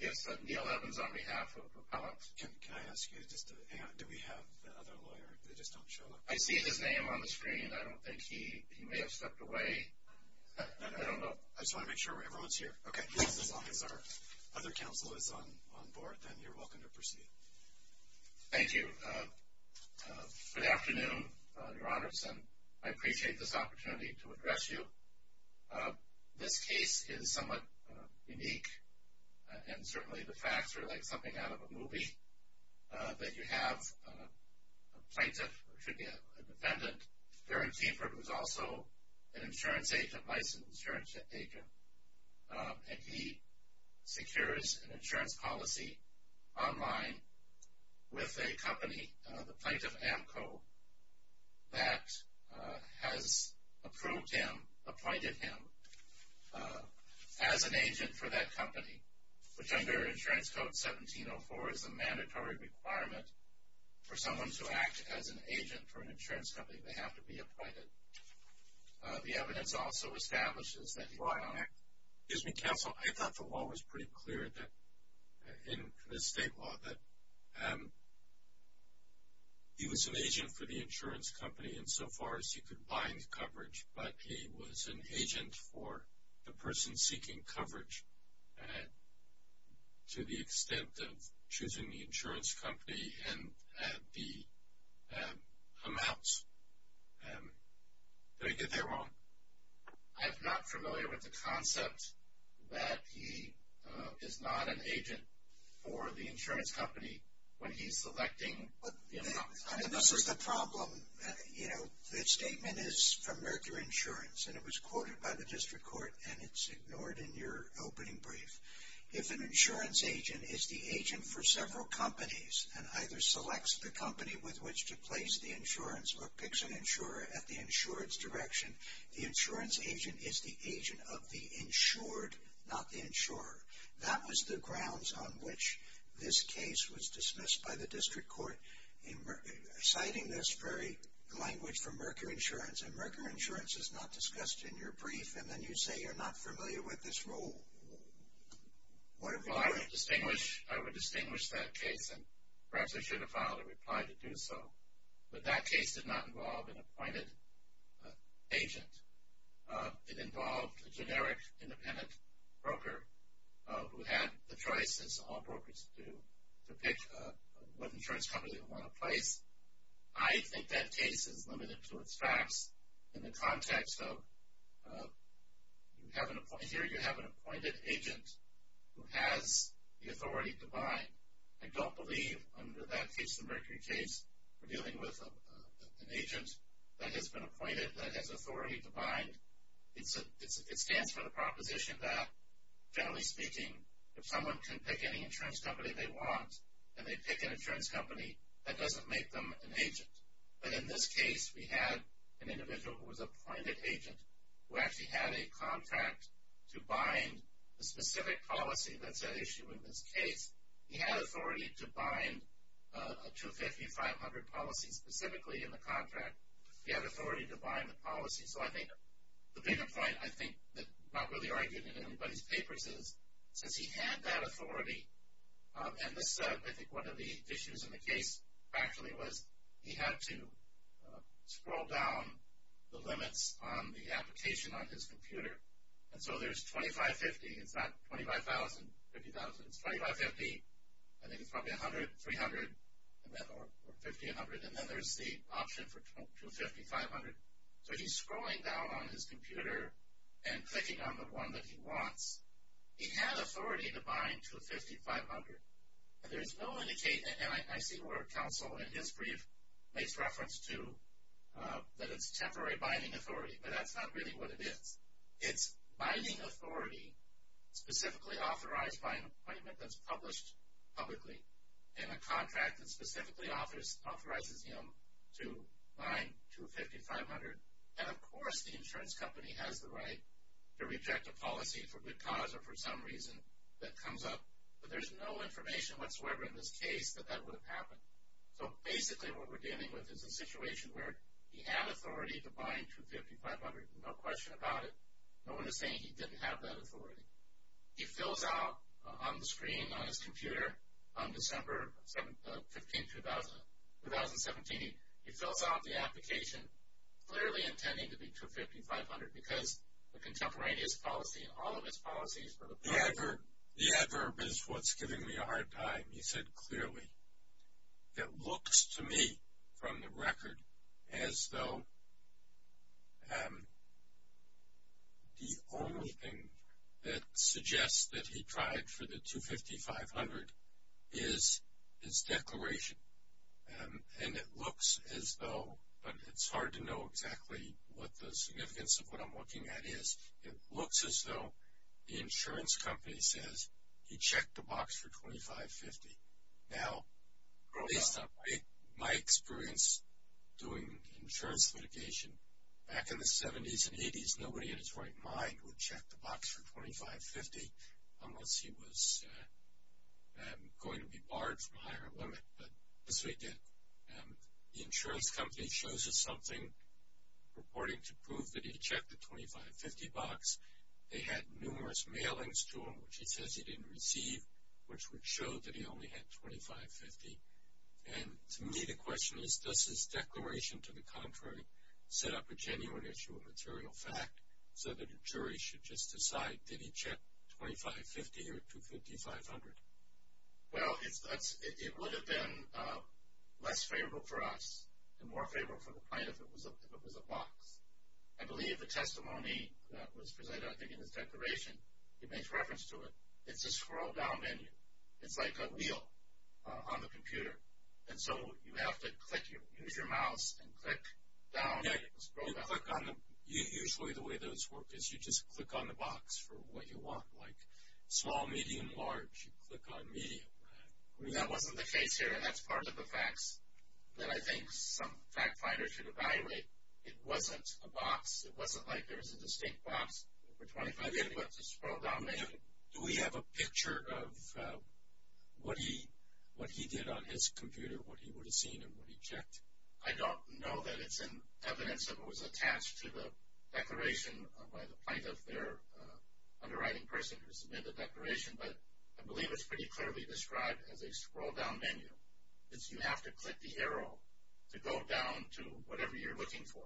Yes, Neil Evans on behalf of Propellant. Can I ask you, just hang on, do we have the other lawyer? They just don't show up. I see his name on the screen. I don't think he, he may have stepped away. I don't know. I just want to make sure everyone's here. Okay. As long as our other counsel is on board, then you're welcome to proceed. Thank you. Good afternoon, Your Honors, and I appreciate this opportunity to address you. This case is somewhat unique, and certainly the facts are like something out of a movie, that you have a plaintiff, or it should be an independent, Gerard Thiefer, who's also an insurance agent, licensed insurance agent, and he secures an insurance policy online with a company, the Plaintiff AMCO, that has approved him, appointed him, as an agent for that company, which under Insurance Code 1704 is a mandatory requirement for someone to act as an agent for an insurance company. They have to be appointed. The evidence also establishes that he... Excuse me, counsel, I thought the law was pretty clear that, in the state law, that he was an agent for the insurance company insofar as he could bind coverage, but he was an agent for the person seeking coverage to the extent of choosing the insurance company and the amounts. I'm not familiar with the concept that he is not an agent for the insurance company when he's selecting the amounts. I mean, this is the problem. You know, the statement is from Mercury Insurance, and it was quoted by the district court, and it's ignored in your opening brief. If an insurance agent is the agent for several companies, and either selects the company with which to place the insurance or picks an insurer at the insurance direction, the insurance agent is the agent of the insured, not the insurer. That was the grounds on which this case was dismissed by the district court, citing this very language from Mercury Insurance, and Mercury Insurance is not discussed in your brief, and then you say you're not familiar with this rule. Well, I would distinguish that case, and perhaps I should have filed a reply to do so, but that case did not involve an appointed agent. It involved a generic independent broker who had the choice, as all brokers do, to pick what insurance company to want to place. I think that case is limited to its facts in the context of here you have an appointed agent who has the authority to buy. I don't believe under that case, the Mercury case, we're dealing with an agent that has been appointed, that has authority to bind. It stands for the proposition that, generally speaking, if someone can pick any insurance company they want, and they pick an insurance company, that doesn't make them an agent. But in this case, we had an individual who was appointed agent, who actually had a contract to bind the specific policy that's at issue in this case. He had authority to bind a 250, 500 policy specifically in the contract. He had authority to bind the policy. So I think the bigger point, I think, that's not really argued in anybody's papers is, since he had that authority, and this, I think, one of the issues in the case actually was he had to scroll down the limits on the application on his computer. And so there's 2550, it's not 25,000, 50,000, it's 2550. I think it's probably 100, 300, or 50, 100. And then there's the option for 250, 500. So he's scrolling down on his computer and clicking on the one that he wants. He had authority to bind 250, 500. And there's no indication, and I see where counsel in his brief makes reference to, that it's temporary binding authority. But that's not really what it is. It's binding authority specifically authorized by an appointment that's published publicly in a contract that specifically authorizes him to bind 250, 500. And, of course, the insurance company has the right to reject a policy for good cause or for some reason that comes up. But there's no information whatsoever in this case that that would have happened. So basically what we're dealing with is a situation where he had authority to bind 250, 500, no question about it. No one is saying he didn't have that authority. He fills out on the screen on his computer on December 15, 2017, he fills out the application clearly intending to be 250, 500 because the contemporaneous policy and all of its policies were approved. The adverb is what's giving me a hard time. He said clearly. It looks to me from the record as though the only thing that suggests that he tried for the 250, 500 is his declaration. And it looks as though, but it's hard to know exactly what the significance of what I'm looking at is. It looks as though the insurance company says he checked the box for 2550. Now, based on my experience doing insurance litigation, back in the 70s and 80s, nobody in his right mind would check the box for 2550 unless he was going to be barred from a higher limit. But this way he did. The insurance company shows us something purporting to prove that he checked the 2550 box. They had numerous mailings to him which he says he didn't receive, which would show that he only had 2550. And to me the question is, does his declaration to the contrary set up a genuine issue of material fact so that a jury should just decide, did he check 2550 or 250, 500? Well, it would have been less favorable for us and more favorable for the client if it was a box. I believe the testimony that was presented, I think in his declaration, he makes reference to it. It's a scroll down menu. It's like a wheel on the computer. And so you have to click, you use your mouse and click down and scroll down. Usually the way those work is you just click on the box for what you want, like small, medium, large. You click on medium, right? That wasn't the case here, and that's part of the facts that I think some fact finders should evaluate. It wasn't a box. It wasn't like there was a distinct box for 2550. It was a scroll down menu. Do we have a picture of what he did on his computer, what he would have seen and what he checked? I don't know that it's in evidence that it was attached to the declaration by the plaintiff, their underwriting person who submitted the declaration, but I believe it's pretty clearly described as a scroll down menu. You have to click the arrow to go down to whatever you're looking for.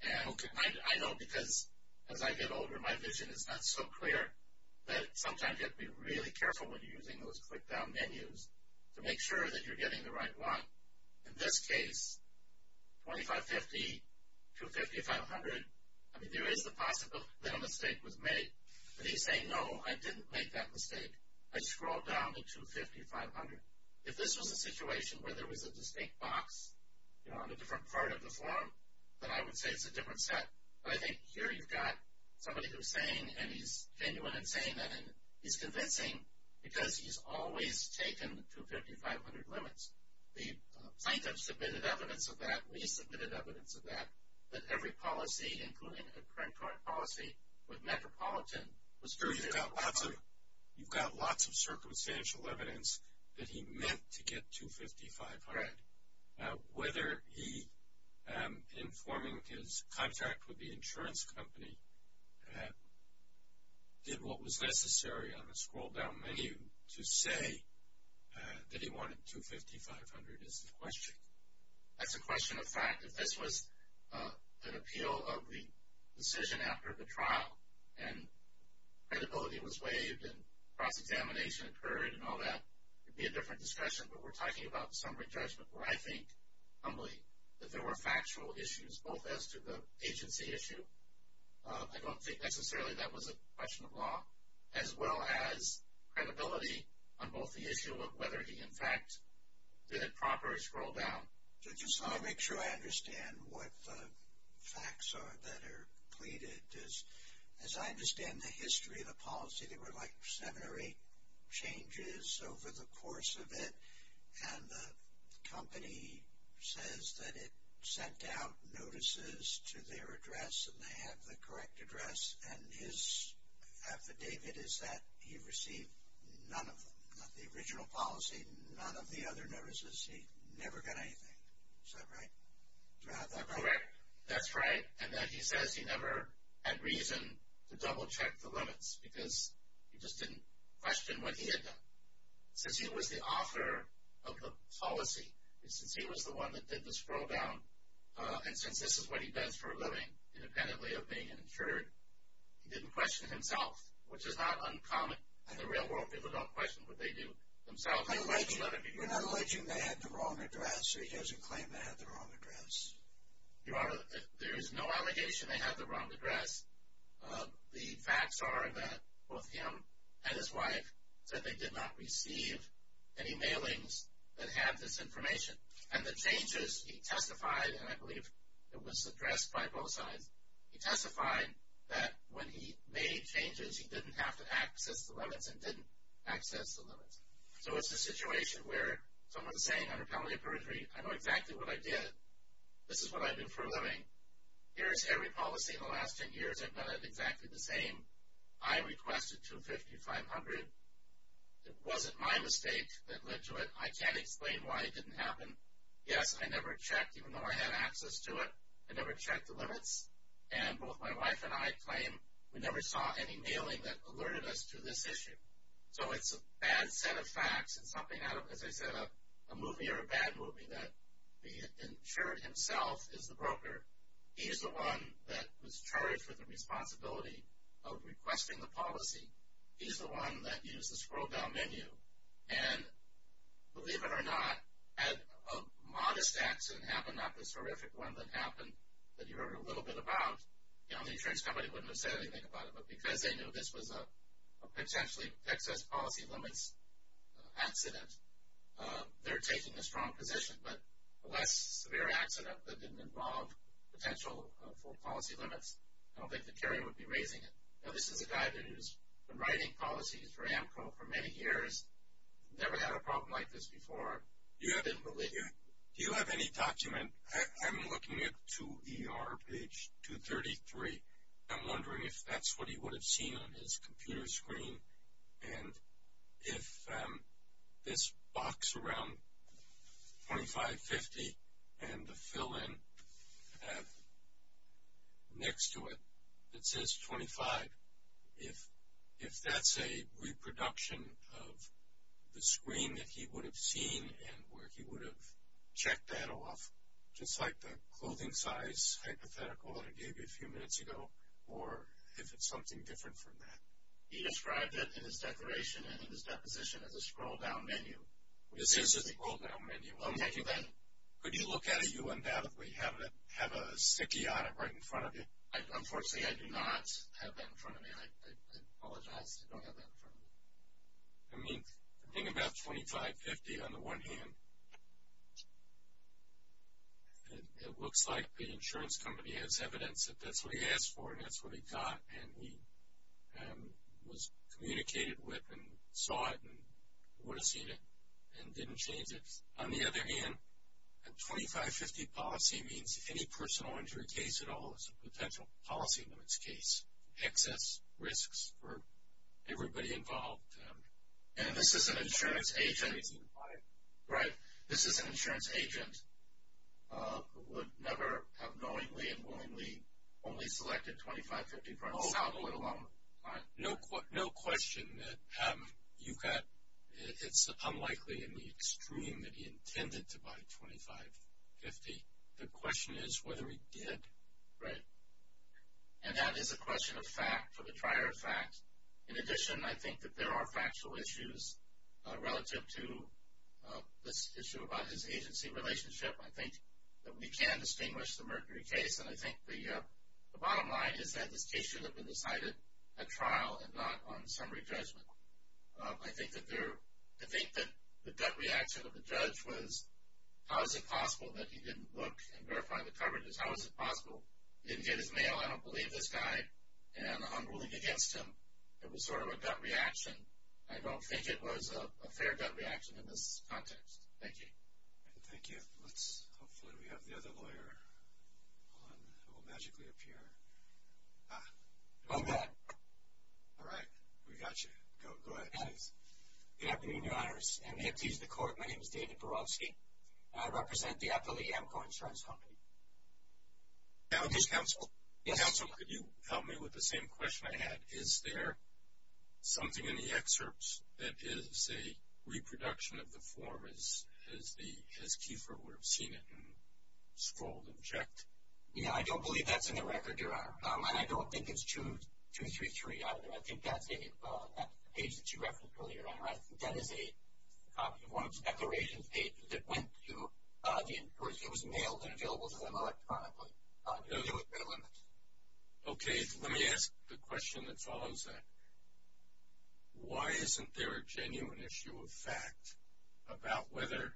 And I know because as I get older my vision is not so clear that sometimes you have to be really careful when you're using those click down menus to make sure that you're getting the right one. In this case, 2550, 250, 500, I mean there is the possibility that a mistake was made, but he's saying, no, I didn't make that mistake. I scrolled down to 250, 500. If this was a situation where there was a distinct box, you know, on a different part of the form, then I would say it's a different set. But I think here you've got somebody who's saying, and he's genuine in saying that, and he's convincing because he's always taken the 250, 500 limits. The plaintiff submitted evidence of that. We submitted evidence of that, that every policy, including a correctorial policy with Metropolitan, was true. You've got lots of circumstantial evidence that he meant to get 250, 500. Whether he, in forming his contract with the insurance company, did what was necessary on the scroll down menu to say that he wanted 250, 500 is the question. That's a question of fact. If this was an appeal of the decision after the trial and credibility was waived and cross-examination occurred and all that, it would be a different discussion. But we're talking about the summary judgment where I think, humbly, that there were factual issues, both as to the agency issue, I don't think necessarily that was a question of law, as well as credibility on both the issue of whether he, in fact, did it properly scroll down. I just want to make sure I understand what the facts are that are pleaded. As I understand the history of the policy, there were like seven or eight changes over the course of it, and the company says that it sent out notices to their address and they have the correct address, and his affidavit is that he received none of them. Not the original policy, none of the other notices. He never got anything. Is that right? Do I have that right? Correct. That's right. And then he says he never had reason to double-check the limits because he just didn't question what he had done. Since he was the author of the policy, since he was the one that did the scroll down, and since this is what he does for a living independently of being an insured, he didn't question himself, which is not uncommon in the real world. People don't question what they do themselves. You're not alleging they had the wrong address, so he doesn't claim they had the wrong address. There is no allegation they had the wrong address. The facts are that both him and his wife said they did not receive any mailings that had this information. And the changes he testified, and I believe it was addressed by both sides, he testified that when he made changes, he didn't have to access the limits and didn't access the limits. So it's a situation where someone is saying under penalty of perjury, I know exactly what I did, this is what I do for a living, here's every policy in the last 10 years, I've done it exactly the same, I requested 250, 500, it wasn't my mistake that led to it, I can't explain why it didn't happen. Yes, I never checked, even though I had access to it, I never checked the limits. And both my wife and I claim we never saw any mailing that alerted us to this issue. So it's a bad set of facts and something out of, as I said, a movie or a bad movie, that the insured himself is the broker, he's the one that was charged with the responsibility of requesting the policy, he's the one that used the scroll down menu, and believe it or not, had a modest accident happen, not this horrific one that happened that you heard a little bit about, the insurance company wouldn't have said anything about it, but because they knew this was a potentially excess policy limits accident, they're taking a strong position. But a less severe accident that didn't involve potential full policy limits, I don't think the carrier would be raising it. Now this is a guy that has been writing policies for AMCO for many years, never had a problem like this before. Do you have any document, I'm looking at 2ER, page 233, I'm wondering if that's what he would have seen on his computer screen, and if this box around 2550 and the fill in next to it that says 25, if that's a reproduction of the screen that he would have seen and where he would have checked that off, just like the clothing size hypothetical I gave you a few minutes ago, or if it's something different from that. He described it in his declaration and in his deposition as a scroll down menu. It is a scroll down menu. Could you look at it, you undoubtedly have a sticky on it right in front of you. Unfortunately, I do not have that in front of me. I apologize, I don't have that in front of me. I mean, thinking about 2550 on the one hand, it looks like the insurance company has evidence that that's what he asked for and that's what he got and he was communicated with and saw it and would have seen it and didn't change it. On the other hand, a 2550 policy means any personal injury case at all is a potential policy limits case. Excess risks for everybody involved. And this is an insurance agent. This is an insurance agent who would never have knowingly and willingly only selected 2550 for himself. No question that it's unlikely in the extreme that he intended to buy 2550. The question is whether he did. Right. And that is a question of fact for the prior fact. In addition, I think that there are factual issues relative to this issue about his agency relationship. I think that we can distinguish the Mercury case, and I think the bottom line is that this case should have been decided at trial and not on summary judgment. I think that the gut reaction of the judge was, how is it possible that he didn't look and verify the coverages? How is it possible? He didn't get his mail. I don't believe this guy. And the unruling against him, it was sort of a gut reaction. I don't think it was a fair gut reaction in this context. Thank you. Thank you. Hopefully we have the other lawyer on who will magically appear. Go ahead. All right. We got you. Go ahead. Good afternoon, Your Honors. I'm here to teach the court. My name is David Borowski. I represent the Appellee Amco Insurance Company. Counsel, could you help me with the same question I had? Is there something in the excerpts that is a reproduction of the form as Kiefer would have seen it and scrolled and checked? Yeah, I don't believe that's in the record, Your Honor. And I don't think it's 2233 either. I think that's the page that you referenced earlier. Your Honor, I think that is a copy of one of the declaration pages that went to the insurance. It was mailed and available to them electronically. No, there was no limit. Okay. Let me ask the question that follows that. Why isn't there a genuine issue of fact about whether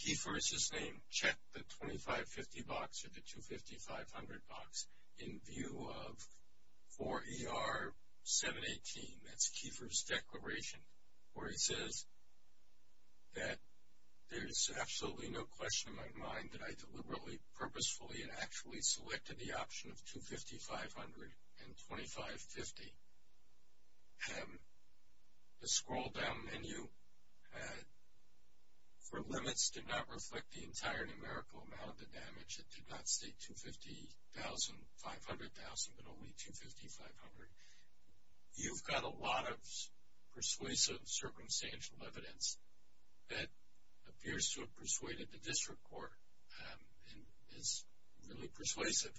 Kiefer, as his name, checked the 2550 box or the 250-500 box in view of 4ER-718, that's Kiefer's declaration, where he says that there's absolutely no question in my mind that I deliberately, purposefully, and actually selected the option of 250-500 and 2550. The scroll down menu for limits did not reflect the entire numerical amount of the damage. It did not state 250,000, 500,000, but only 250,500. You've got a lot of persuasive circumstantial evidence that appears to have persuaded the district court and is really persuasive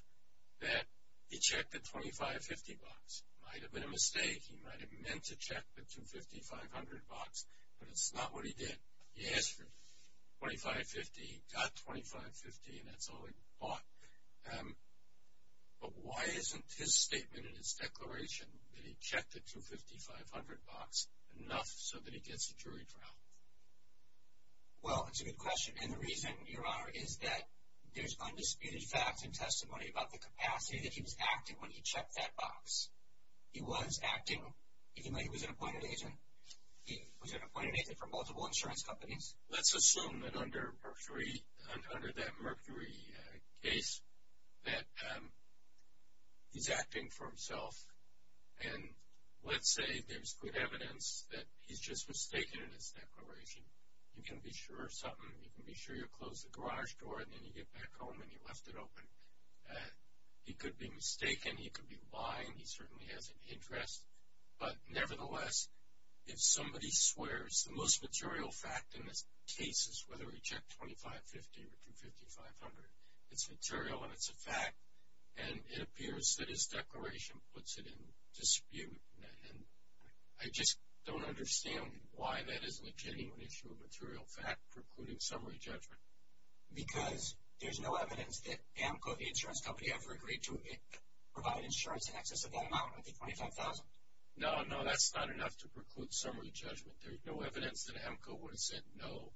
that he checked the 2550 box. It might have been a mistake. He might have meant to check the 250-500 box, but it's not what he did. He asked for 2550. He got 2550, and that's all he bought. But why isn't his statement in his declaration that he checked the 250-500 box enough so that he gets a jury trial? Well, it's a good question. And the reason, Your Honor, is that there's undisputed facts and testimony about the capacity that he was acting when he checked that box. He was acting, even though he was an appointed agent. He was an appointed agent for multiple insurance companies. Let's assume that under that Mercury case that he's acting for himself, and let's say there's good evidence that he's just mistaken in his declaration. You can be sure of something. You can be sure you closed the garage door, and then you get back home and you left it open. He could be mistaken. He could be lying. He certainly has an interest. But nevertheless, if somebody swears the most material fact in this case is whether he checked 2550 or 250-500, it's material and it's a fact, and it appears that his declaration puts it in dispute. I just don't understand why that isn't a genuine issue of material fact precluding summary judgment. Because there's no evidence that AMCO, the insurance company, ever agreed to provide insurance in excess of that amount, of the 25,000. No, no, that's not enough to preclude summary judgment. There's no evidence that AMCO would have said no.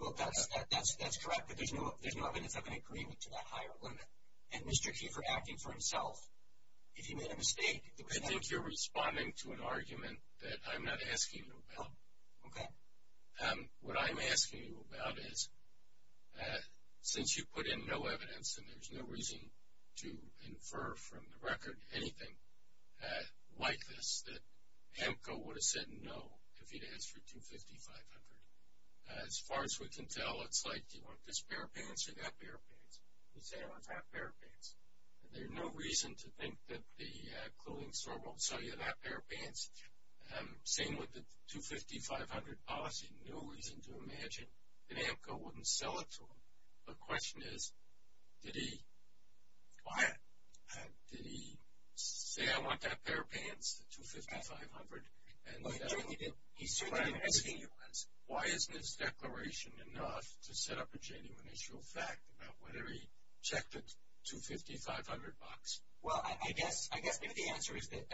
Well, that's correct, but there's no evidence of an agreement to that higher limit. And Mr. Keefer acting for himself, if he made a mistake. I think you're responding to an argument that I'm not asking you about. Okay. What I'm asking you about is, since you put in no evidence, and there's no reason to infer from the record anything like this, that AMCO would have said no if he'd asked for 250-500. As far as we can tell, it's like, do you want this pair of pants or that pair of pants? He'd say, I want that pair of pants. And there's no reason to think that the clothing store won't sell you that pair of pants. Same with the 250-500 policy. No reason to imagine that AMCO wouldn't sell it to him. The question is, did he say, I want that pair of pants, the 250-500? He certainly didn't. Why isn't his declaration enough to set up a genuine issue of fact about whether he checked the 250-500 box? Well, I guess the answer is that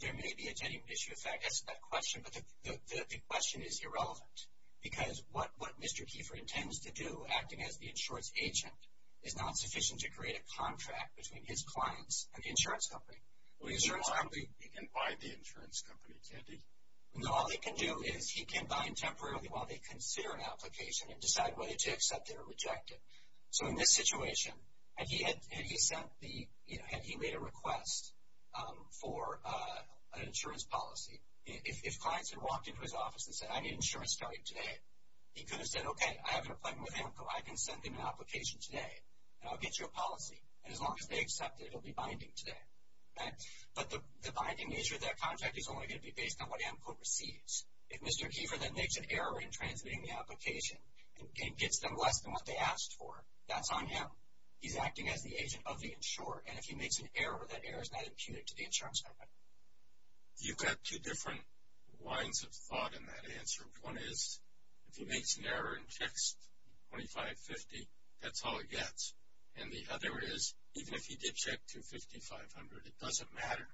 there may be a genuine issue of fact as to that question, but the question is irrelevant, because what Mr. Keefer intends to do, acting as the insurance agent, is not sufficient to create a contract between his clients and the insurance company. He can bind the insurance company, can't he? No, all they can do is he can bind temporarily while they consider an application and decide whether to accept it or reject it. So in this situation, had he made a request for an insurance policy, if clients had walked into his office and said, I need insurance starting today, he could have said, okay, I have an appointment with AMCO. I can send them an application today, and I'll get you a policy. And as long as they accept it, it will be binding today. But the binding nature of that contract is only going to be based on what AMCO receives. If Mr. Keefer then makes an error in transmitting the application and gets them less than what they asked for, that's on him. He's acting as the agent of the insurer, and if he makes an error, that error is not imputed to the insurance company. You've got two different lines of thought in that answer. One is, if he makes an error and checks 2550, that's all he gets. And the other is, even if he did check 25500, it doesn't matter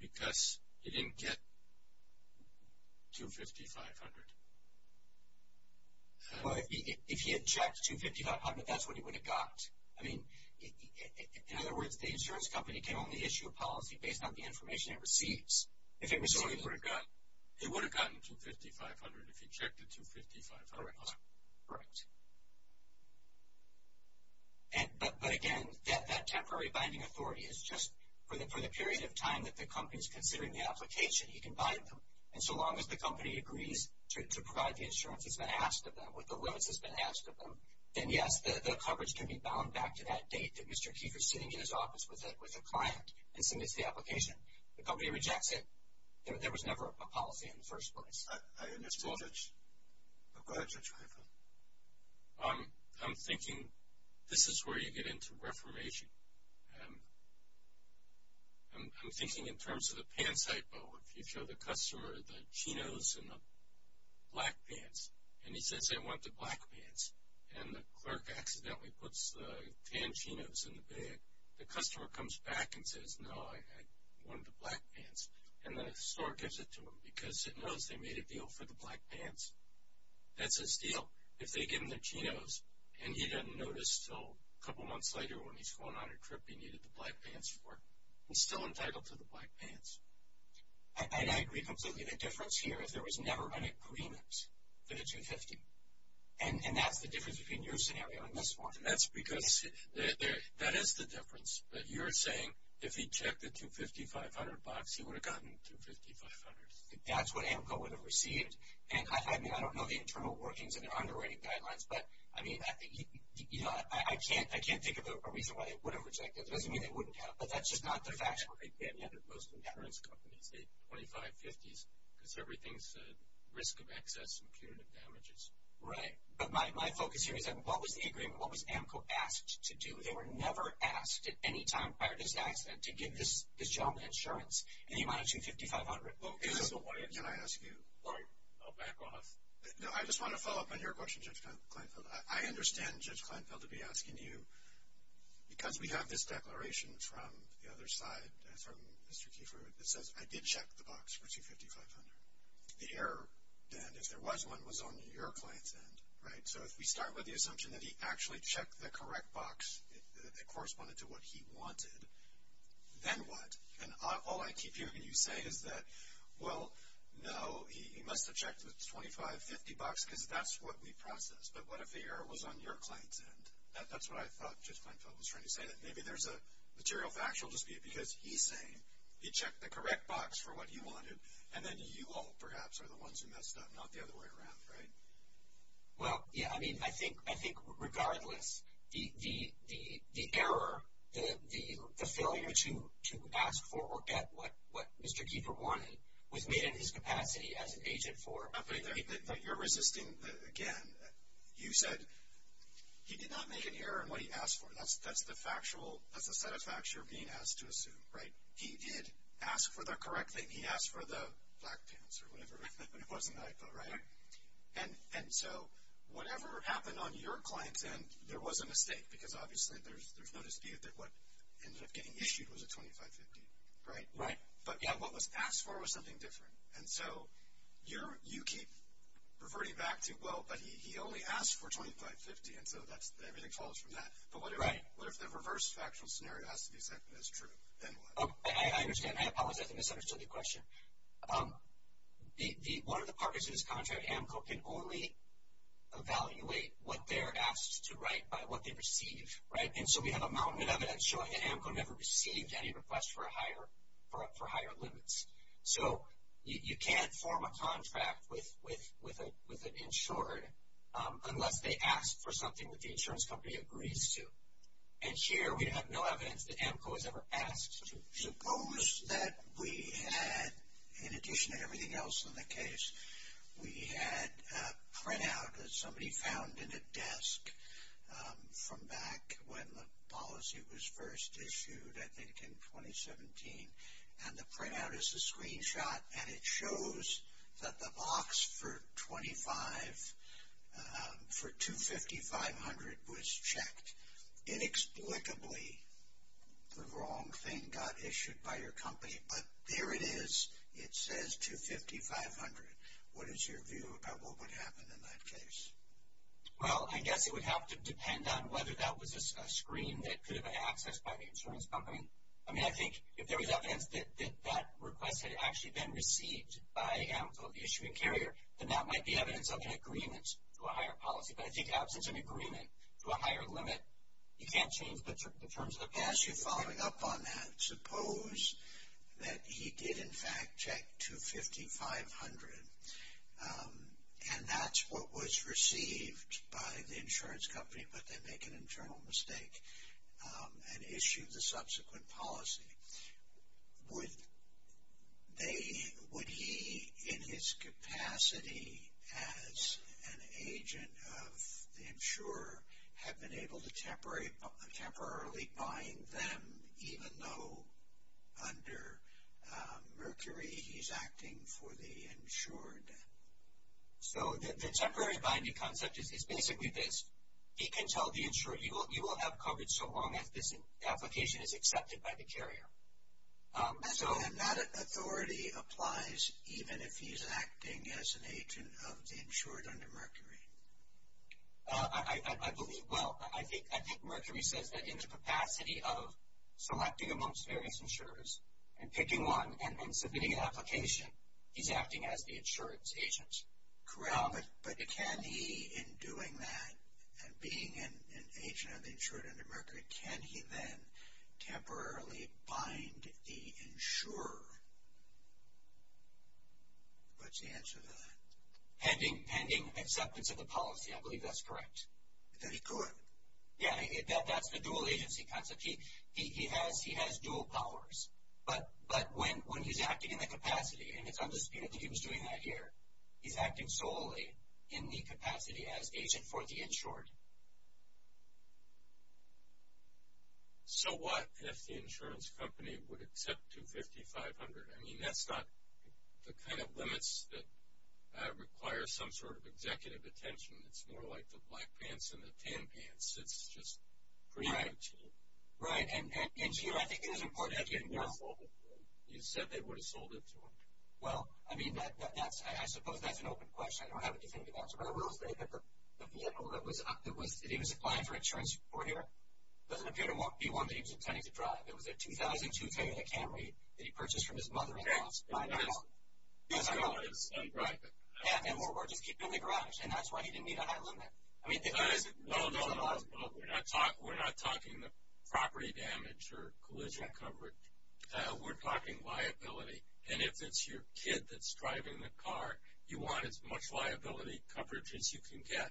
because he didn't get 25500. Well, if he had checked 25500, that's what he would have got. I mean, in other words, the insurance company can only issue a policy based on the information it receives. So he would have gotten 25500 if he checked the 25500 line. Correct. But, again, that temporary binding authority is just for the period of time that the company is considering the application, he can bind them. And so long as the company agrees to provide the insurance that's been asked of them with the limits that's been asked of them, then, yes, the coverage can be bound back to that date that Mr. Keefer is sitting in his office with a client and submits the application. If the company rejects it, there was never a policy in the first place. I understand that. Go ahead, Judge Keefer. I'm thinking this is where you get into reformation. I'm thinking in terms of the pants hypo. If you show the customer the chinos and the black pants, and he says they want the black pants, and the clerk accidentally puts the tan chinos in the bag, the customer comes back and says, no, I want the black pants. And the store gives it to him because it knows they made a deal for the black pants. That's his deal. If they give him the chinos and he doesn't notice until a couple months later when he's going on a trip he needed the black pants for, he's still entitled to the black pants. And I agree completely. The difference here is there was never an agreement for the 250. And that's the difference between your scenario and this one. That is the difference. But you're saying if he checked the $250,500 box, he would have gotten $250,500. That's what AMCO would have received. And I don't know the internal workings and their underwriting guidelines, but I can't think of a reason why they would have rejected it. It doesn't mean they wouldn't have, but that's just not their fashion. Yeah, most insurance companies say $25,000, $50,000, because everything's at risk of excess and punitive damages. Right. But my focus here is what was the agreement? What was AMCO asked to do? They were never asked at any time prior to this accident to give this gentleman insurance, any amount of $250,500. Can I ask you? Laurie, I'll back off. No, I just want to follow up on your question, Judge Kleinfeld. I understand, Judge Kleinfeld, to be asking you, because we have this declaration from the other side, from Mr. Kiefer, that says, I did check the box for $250,500. The error, Dan, if there was one, was on your client's end, right? So if we start with the assumption that he actually checked the correct box that corresponded to what he wanted, then what? And all I keep hearing you say is that, well, no, he must have checked the $25,000, $50,000, because that's what we processed. But what if the error was on your client's end? That's what I thought Judge Kleinfeld was trying to say, that maybe there's a material factual dispute, because he's saying he checked the correct box for what he wanted, and then you all, perhaps, are the ones who messed up, not the other way around, right? Well, yeah, I mean, I think regardless, the error, the failure to ask for or get what Mr. Kiefer wanted was made in his capacity as an agent for. But you're resisting, again, you said he did not make an error in what he asked for. That's the factual, that's the set of facts you're being asked to assume, right? He did ask for the correct thing. He asked for the black pants or whatever, but it wasn't the IPO, right? And so, whatever happened on your client's end, there was a mistake, because obviously there's no dispute that what ended up getting issued was a $25,000, $50,000, right? Right. But what was asked for was something different. And so, you keep reverting back to, well, but he only asked for $25,000, $50,000, and so everything follows from that. But what if the reverse factual scenario has to be accepted as true? Then what? I understand. I apologize. I misunderstood the question. One of the partners in this contract, AMCO, can only evaluate what they're asked to write by what they receive, right? And so, we have a mountain of evidence showing that AMCO never received any requests for higher limits. So, you can't form a contract with an insured unless they ask for something that the insurance company agrees to. And here, we have no evidence that AMCO has ever asked. Suppose that we had, in addition to everything else in the case, we had a printout that somebody found in a desk from back when the policy was first issued, I think in 2017. And the printout is a screenshot, and it shows that the box for $250,500 was checked. Inexplicably, the wrong thing got issued by your company. But there it is. It says $250,500. What is your view about what would happen in that case? Well, I guess it would have to depend on whether that was a screen that could have been accessed by the insurance company. I mean, I think if there was evidence that that request had actually been received by AMCO, the issuing carrier, then that might be evidence of an agreement to a higher policy. But I think absence of an agreement to a higher limit, you can't change the terms of the policy. As you're following up on that, suppose that he did, in fact, check $250,500, and that's what was received by the insurance company, but they make an internal mistake and issue the subsequent policy. Would he, in his capacity as an agent of the insurer, have been able to temporarily bind them, even though under Mercury he's acting for the insured? So, the temporary binding concept is basically this. He can tell the insurer, you will have coverage so long as this application is accepted by the carrier. And that authority applies even if he's acting as an agent of the insured under Mercury? I believe, well, I think Mercury says that in the capacity of selecting amongst various insurers and picking one and submitting an application, he's acting as the insurance agent. But can he, in doing that, and being an agent of the insured under Mercury, can he then temporarily bind the insurer? What's the answer to that? Pending acceptance of the policy. I believe that's correct. That he could? Yeah, that's the dual agency concept. He has dual powers. But when he's acting in the capacity, and I think he was doing that here, he's acting solely in the capacity as agent for the insured. So, what if the insurance company would accept $250,000, $500,000? I mean, that's not the kind of limits that require some sort of executive attention. It's more like the black pants and the tan pants. It's just pretty much. Right. And, Geo, I think it is important. You said they would have sold it to him. Well, I mean, I suppose that's an open question. I don't have anything to answer. But I will say that the vehicle that he was applying for insurance for here doesn't appear to be one that he was intending to drive. It was a 2002 Toyota Camry that he purchased from his mother-in-law. Okay. And that's. Right. And, moreover, just keep it in the garage. And that's why he didn't meet a high limit. No, no, no. We're not talking the property damage or collision coverage. We're talking liability. And if it's your kid that's driving the car, you want as much liability coverage as you can get.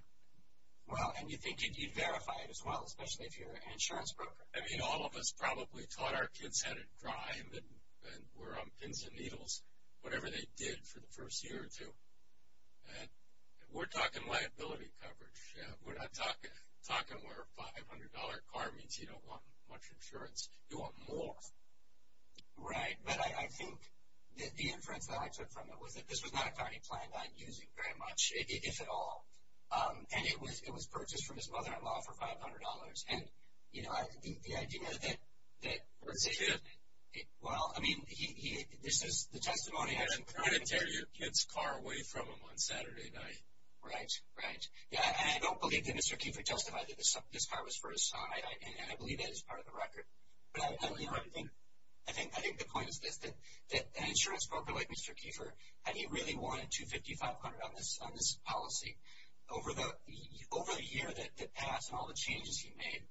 Well, and you think you need to verify it as well, especially if you're an insurance broker. I mean, all of us probably thought our kids had a crime and were on pins and needles, whatever they did for the first year or two. And we're talking liability coverage. We're not talking where a $500 car means you don't want much insurance. You want more. Right. But I think the inference that I took from it was that this was not a car he planned on using very much, if at all. And it was purchased from his mother-in-law for $500. And, you know, the idea that. Where's the kid? Well, I mean, this is the testimony. I didn't tear your kid's car away from him on Saturday night. Right, right. Yeah, and I don't believe that Mr. Kiefer testified that this car was for his son. And I believe that is part of the record. But, you know, I think the point is this, that an insurance broker like Mr. Kiefer, had he really wanted $250, $500 on this policy, over the year that passed and all the changes he made,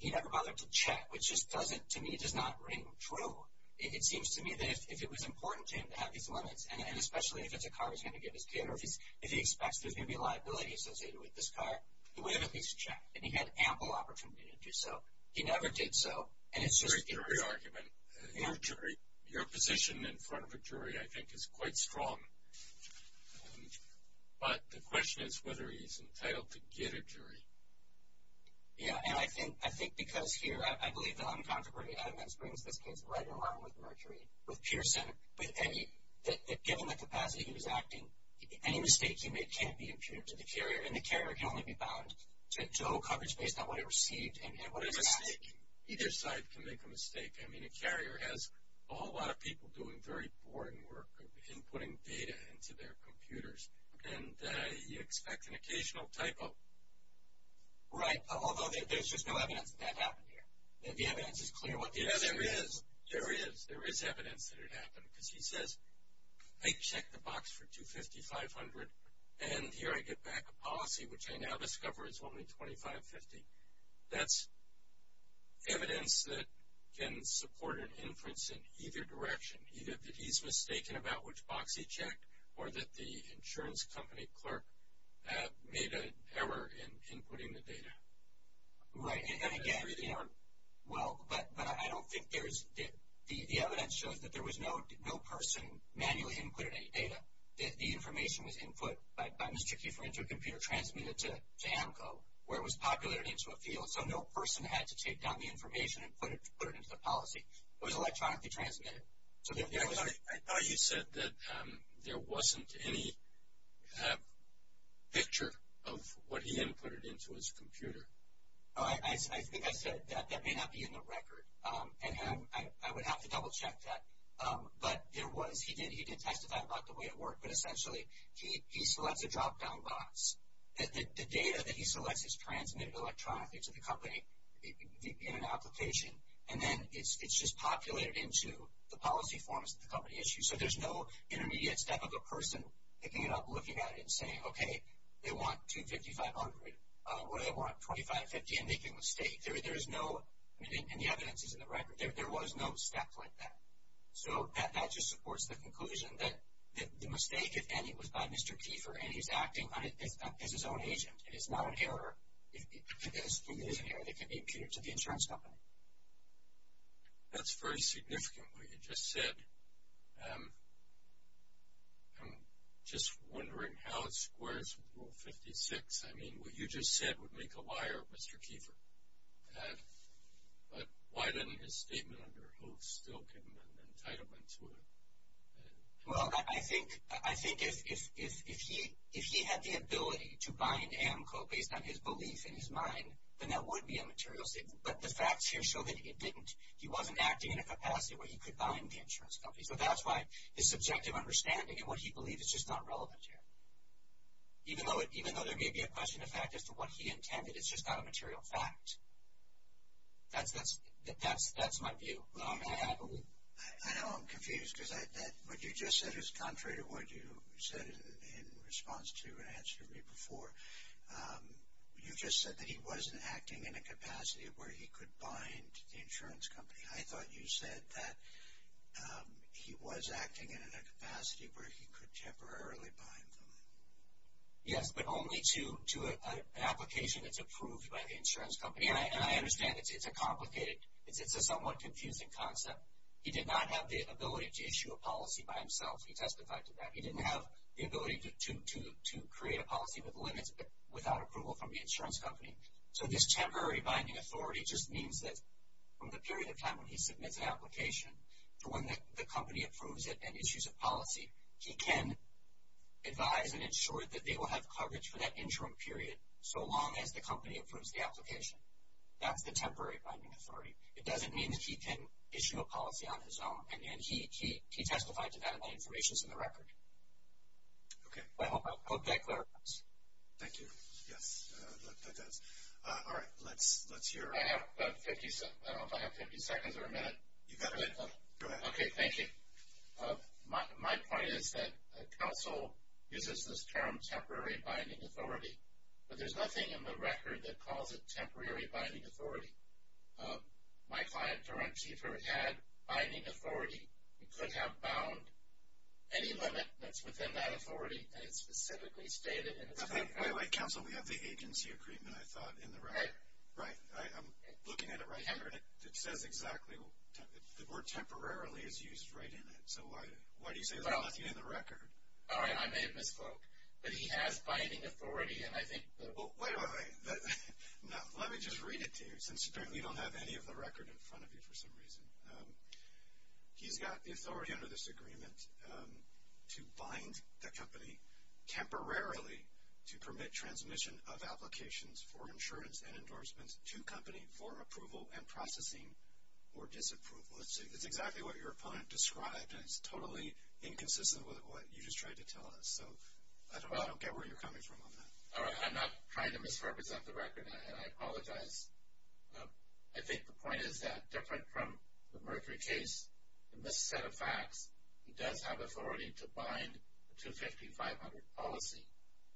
he never bothered to check, which just doesn't, to me, does not ring true. It seems to me that if it was important to him to have these limits, and especially if it's a car he's going to give his kid, or if he expects there's going to be liability associated with this car, he would have at least checked. And he had ample opportunity to do so. He never did so. And it's just a jury argument. You're a jury. Your position in front of a jury, I think, is quite strong. But the question is whether he's entitled to get a jury. Yeah, and I think because here, I believe the uncontroverted evidence brings this case right along with Mercury, with Pearson, that given the capacity he was acting, any mistakes he made can't be imputed to the carrier, and the carrier can only be bound to show coverage based on what he received. What is a mistake? Either side can make a mistake. I mean, a carrier has a whole lot of people doing very boring work of inputting data into their computers, and you expect an occasional typo. Right, although there's just no evidence that that happened here. The evidence is clear what the evidence is. There is. There is evidence that it happened, because he says, I checked the box for 250, 500, and here I get back a policy which I now discover is only 2550. That's evidence that can support an inference in either direction, either that he's mistaken about which box he checked, or that the insurance company clerk made an error in inputting the data. Right, and again, well, but I don't think there is, the evidence shows that there was no person manually inputting any data. The information was input by Mr. Kiefer into a computer transmitted to AMCO, where it was populated into a field. So no person had to take down the information and put it into the policy. It was electronically transmitted. I thought you said that there wasn't any picture of what he inputted into his computer. I think I said that that may not be in the record, and I would have to double check that. But there was, he did testify about the way it worked, but essentially he selects a drop-down box. The data that he selects is transmitted electronically to the company in an application, and then it's just populated into the policy forms that the company issues. So there's no intermediate step of a person picking it up, looking at it, and saying, okay, they want $250, $500, or they want $25, $50, and making a mistake. There is no, and the evidence is in the record, there was no step like that. So that just supports the conclusion that the mistake, if any, was by Mr. Kiefer, and he's acting as his own agent. It is not an error. It is an error. It can be attributed to the insurance company. That's very significant, what you just said. I'm just wondering how it squares with Rule 56. I mean, what you just said would make a liar, Mr. Kiefer. But why didn't his statement under Hoove still give him an entitlement to it? Well, I think if he had the ability to bind AMCO based on his belief in his mind, then that would be a material statement. But the facts here show that it didn't. He wasn't acting in a capacity where he could bind the insurance company. So that's why his subjective understanding and what he believed is just not relevant here. Even though there may be a question of fact as to what he intended, it's just not a material fact. That's my view. I know I'm confused because what you just said is contrary to what you said in response to and answered to me before. You just said that he wasn't acting in a capacity where he could bind the insurance company. I thought you said that he was acting in a capacity where he could temporarily bind them. Yes, but only to an application that's approved by the insurance company. And I understand it's a complicated, it's a somewhat confusing concept. He did not have the ability to issue a policy by himself. He testified to that. He didn't have the ability to create a policy with limits without approval from the insurance company. So this temporary binding authority just means that from the period of time when he submits an application to when the company approves it and issues a policy, he can advise and ensure that they will have coverage for that interim period so long as the company approves the application. That's the temporary binding authority. It doesn't mean that he can issue a policy on his own, and he testified to that, and that information is in the record. I hope that clarifies. Thank you. Yes, that does. All right, let's hear. I don't know if I have 50 seconds or a minute. You've got a minute. Go ahead. Okay, thank you. My point is that counsel uses this term temporary binding authority, but there's nothing in the record that calls it temporary binding authority. My client, Derren Cheever, had binding authority. He could have bound any limit that's within that authority, and it's specifically stated. Wait, wait, counsel, we have the agency agreement, I thought, in the record. Right. Right? I'm looking at it right here, and it says exactly. The word temporarily is used right in it. So why do you say there's nothing in the record? All right, I may have misspoke, but he has binding authority, and I think that... Wait, wait, wait. Let me just read it to you, since we don't have any of the record in front of you for some reason. He's got the authority under this agreement to bind the company temporarily to permit transmission of applications for insurance and endorsements to company for approval and processing or disapproval. It's exactly what your opponent described, and it's totally inconsistent with what you just tried to tell us. So I don't get where you're coming from on that. All right, I'm not trying to misrepresent the record, and I apologize. I think the point is that, different from the Mercury case, in this set of facts, he does have authority to bind the 250-500 policy,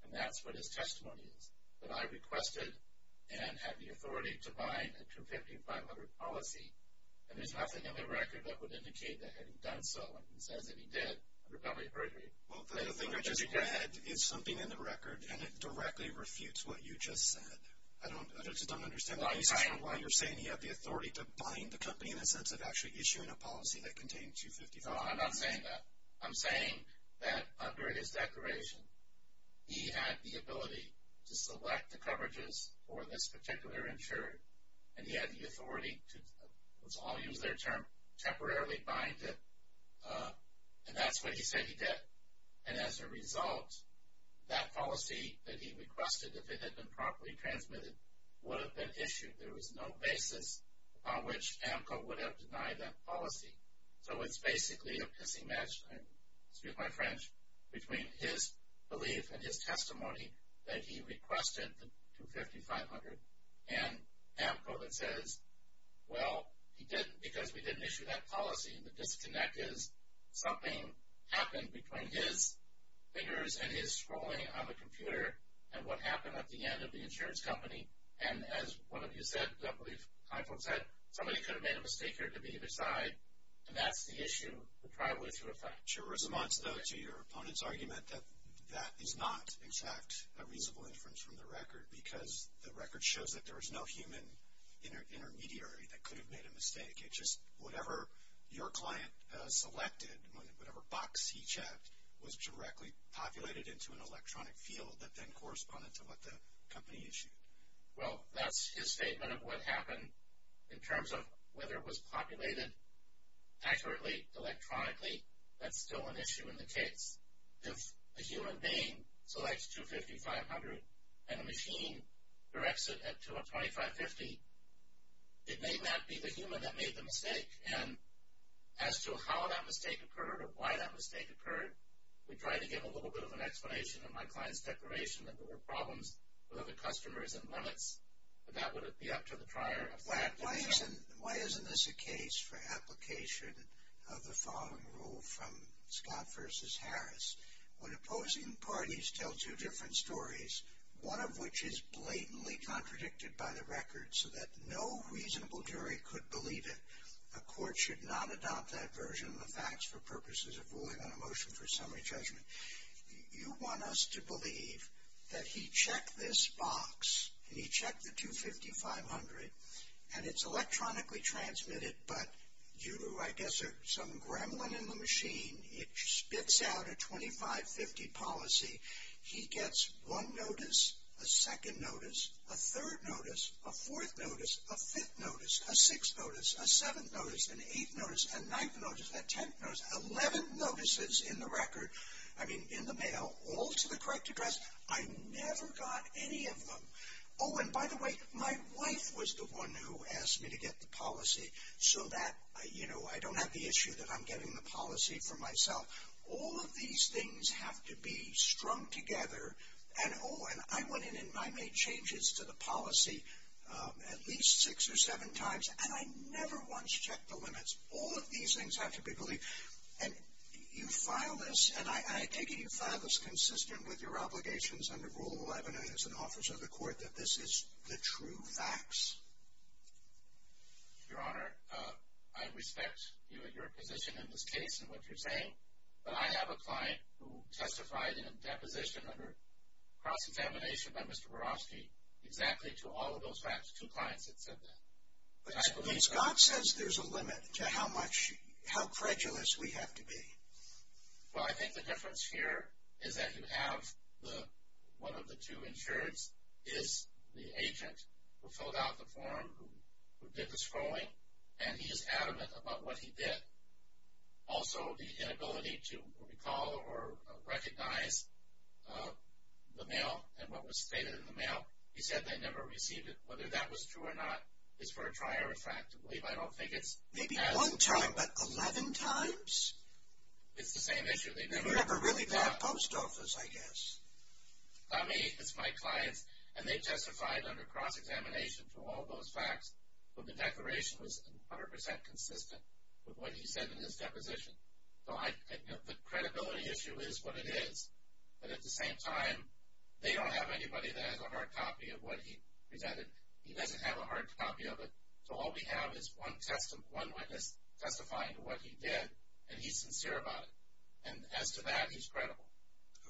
and that's what his testimony is. But I requested and had the authority to bind the 250-500 policy, and there's nothing in the record that would indicate that he had done so. It says that he did, under penalty of perjury. Well, the thing I just read is something in the record, and it directly refutes what you just said. I just don't understand why you're saying he had the authority to bind the company in the sense of actually issuing a policy that contained 250-500. No, I'm not saying that. I'm saying that, under his declaration, he had the ability to select the coverages for this particular insurer, and he had the authority to, let's all use their term, temporarily bind it. And that's what he said he did. And as a result, that policy that he requested, if it had been properly transmitted, would have been issued. So it's basically a pissing match, I speak my French, between his belief and his testimony that he requested the 250-500. And AMCO then says, well, because we didn't issue that policy, the disconnect is something happened between his fingers and his scrolling on the computer, and what happened at the end of the insurance company. And as one of you said, I believe, Heifold said, somebody could have made a mistake here at the beginning of his side, and that's the issue, the probable issue of fact. Your response, though, to your opponent's argument, that that is not, in fact, a reasonable inference from the record, because the record shows that there is no human intermediary that could have made a mistake. It's just whatever your client selected, whatever box he checked, was directly populated into an electronic field that then corresponded to what the company issued. Well, that's his statement of what happened. In terms of whether it was populated accurately electronically, that's still an issue in the case. If a human being selects 250-500 and a machine directs it to a 25-50, it may not be the human that made the mistake. And as to how that mistake occurred or why that mistake occurred, we tried to give a little bit of an explanation in my client's declaration that there were problems with other customers and limits, but that would be up to the prior. Why isn't this a case for application of the following rule from Scott v. Harris? When opposing parties tell two different stories, one of which is blatantly contradicted by the record so that no reasonable jury could believe it, a court should not adopt that version of the facts for purposes of ruling on a motion for summary judgment. You want us to believe that he checked this box and he checked the 250-500 and it's electronically transmitted, but due to, I guess, some gremlin in the machine, it spits out a 25-50 policy. He gets one notice, a second notice, a third notice, a fourth notice, a fifth notice, a sixth notice, a seventh notice, an eighth notice, a ninth notice, a tenth notice, 11 notices in the record, I mean, in the mail, all to the correct address. I never got any of them. Oh, and by the way, my wife was the one who asked me to get the policy so that, you know, I don't have the issue that I'm getting the policy for myself. All of these things have to be strung together, and oh, and I went in and I made changes to the policy at least six or seven times, and I never once checked the limits. All of these things have to be believed. And you filed this, and I take it you filed this consistent with your obligations under Rule 11 as an officer of the court that this is the true facts. Your Honor, I respect your position in this case and what you're saying, but I have a client who testified in a deposition under cross-examination by Mr. Barofsky exactly to all of those facts, two clients that said that. Scott says there's a limit to how much, how credulous we have to be. Well, I think the difference here is that you have one of the two insureds is the agent who filled out the form, who did the scrolling, and he is adamant about what he did. Also, the inability to recall or recognize the mail and what was stated in the mail. He said they never received it. Whether that was true or not is for a trier of fact to believe. I don't think it's as— Maybe one time, but 11 times? It's the same issue. They never really got a post office, I guess. Not me. It's my clients. And they testified under cross-examination for all those facts, but the declaration was 100% consistent with what he said in his deposition. So the credibility issue is what it is. But at the same time, they don't have anybody that has a hard copy of what he presented. He doesn't have a hard copy of it. So all we have is one witness testifying to what he did, and he's sincere about it. And as to that, he's credible.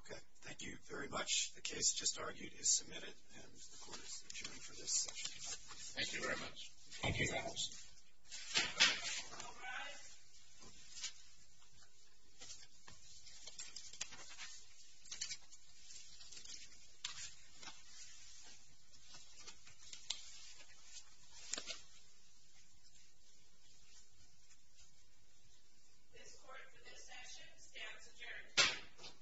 Okay. Thank you very much. The case just argued is submitted, and the Court is adjourned for this session. Thank you very much. Thank you. Thank you. This Court, for this session, stands adjourned.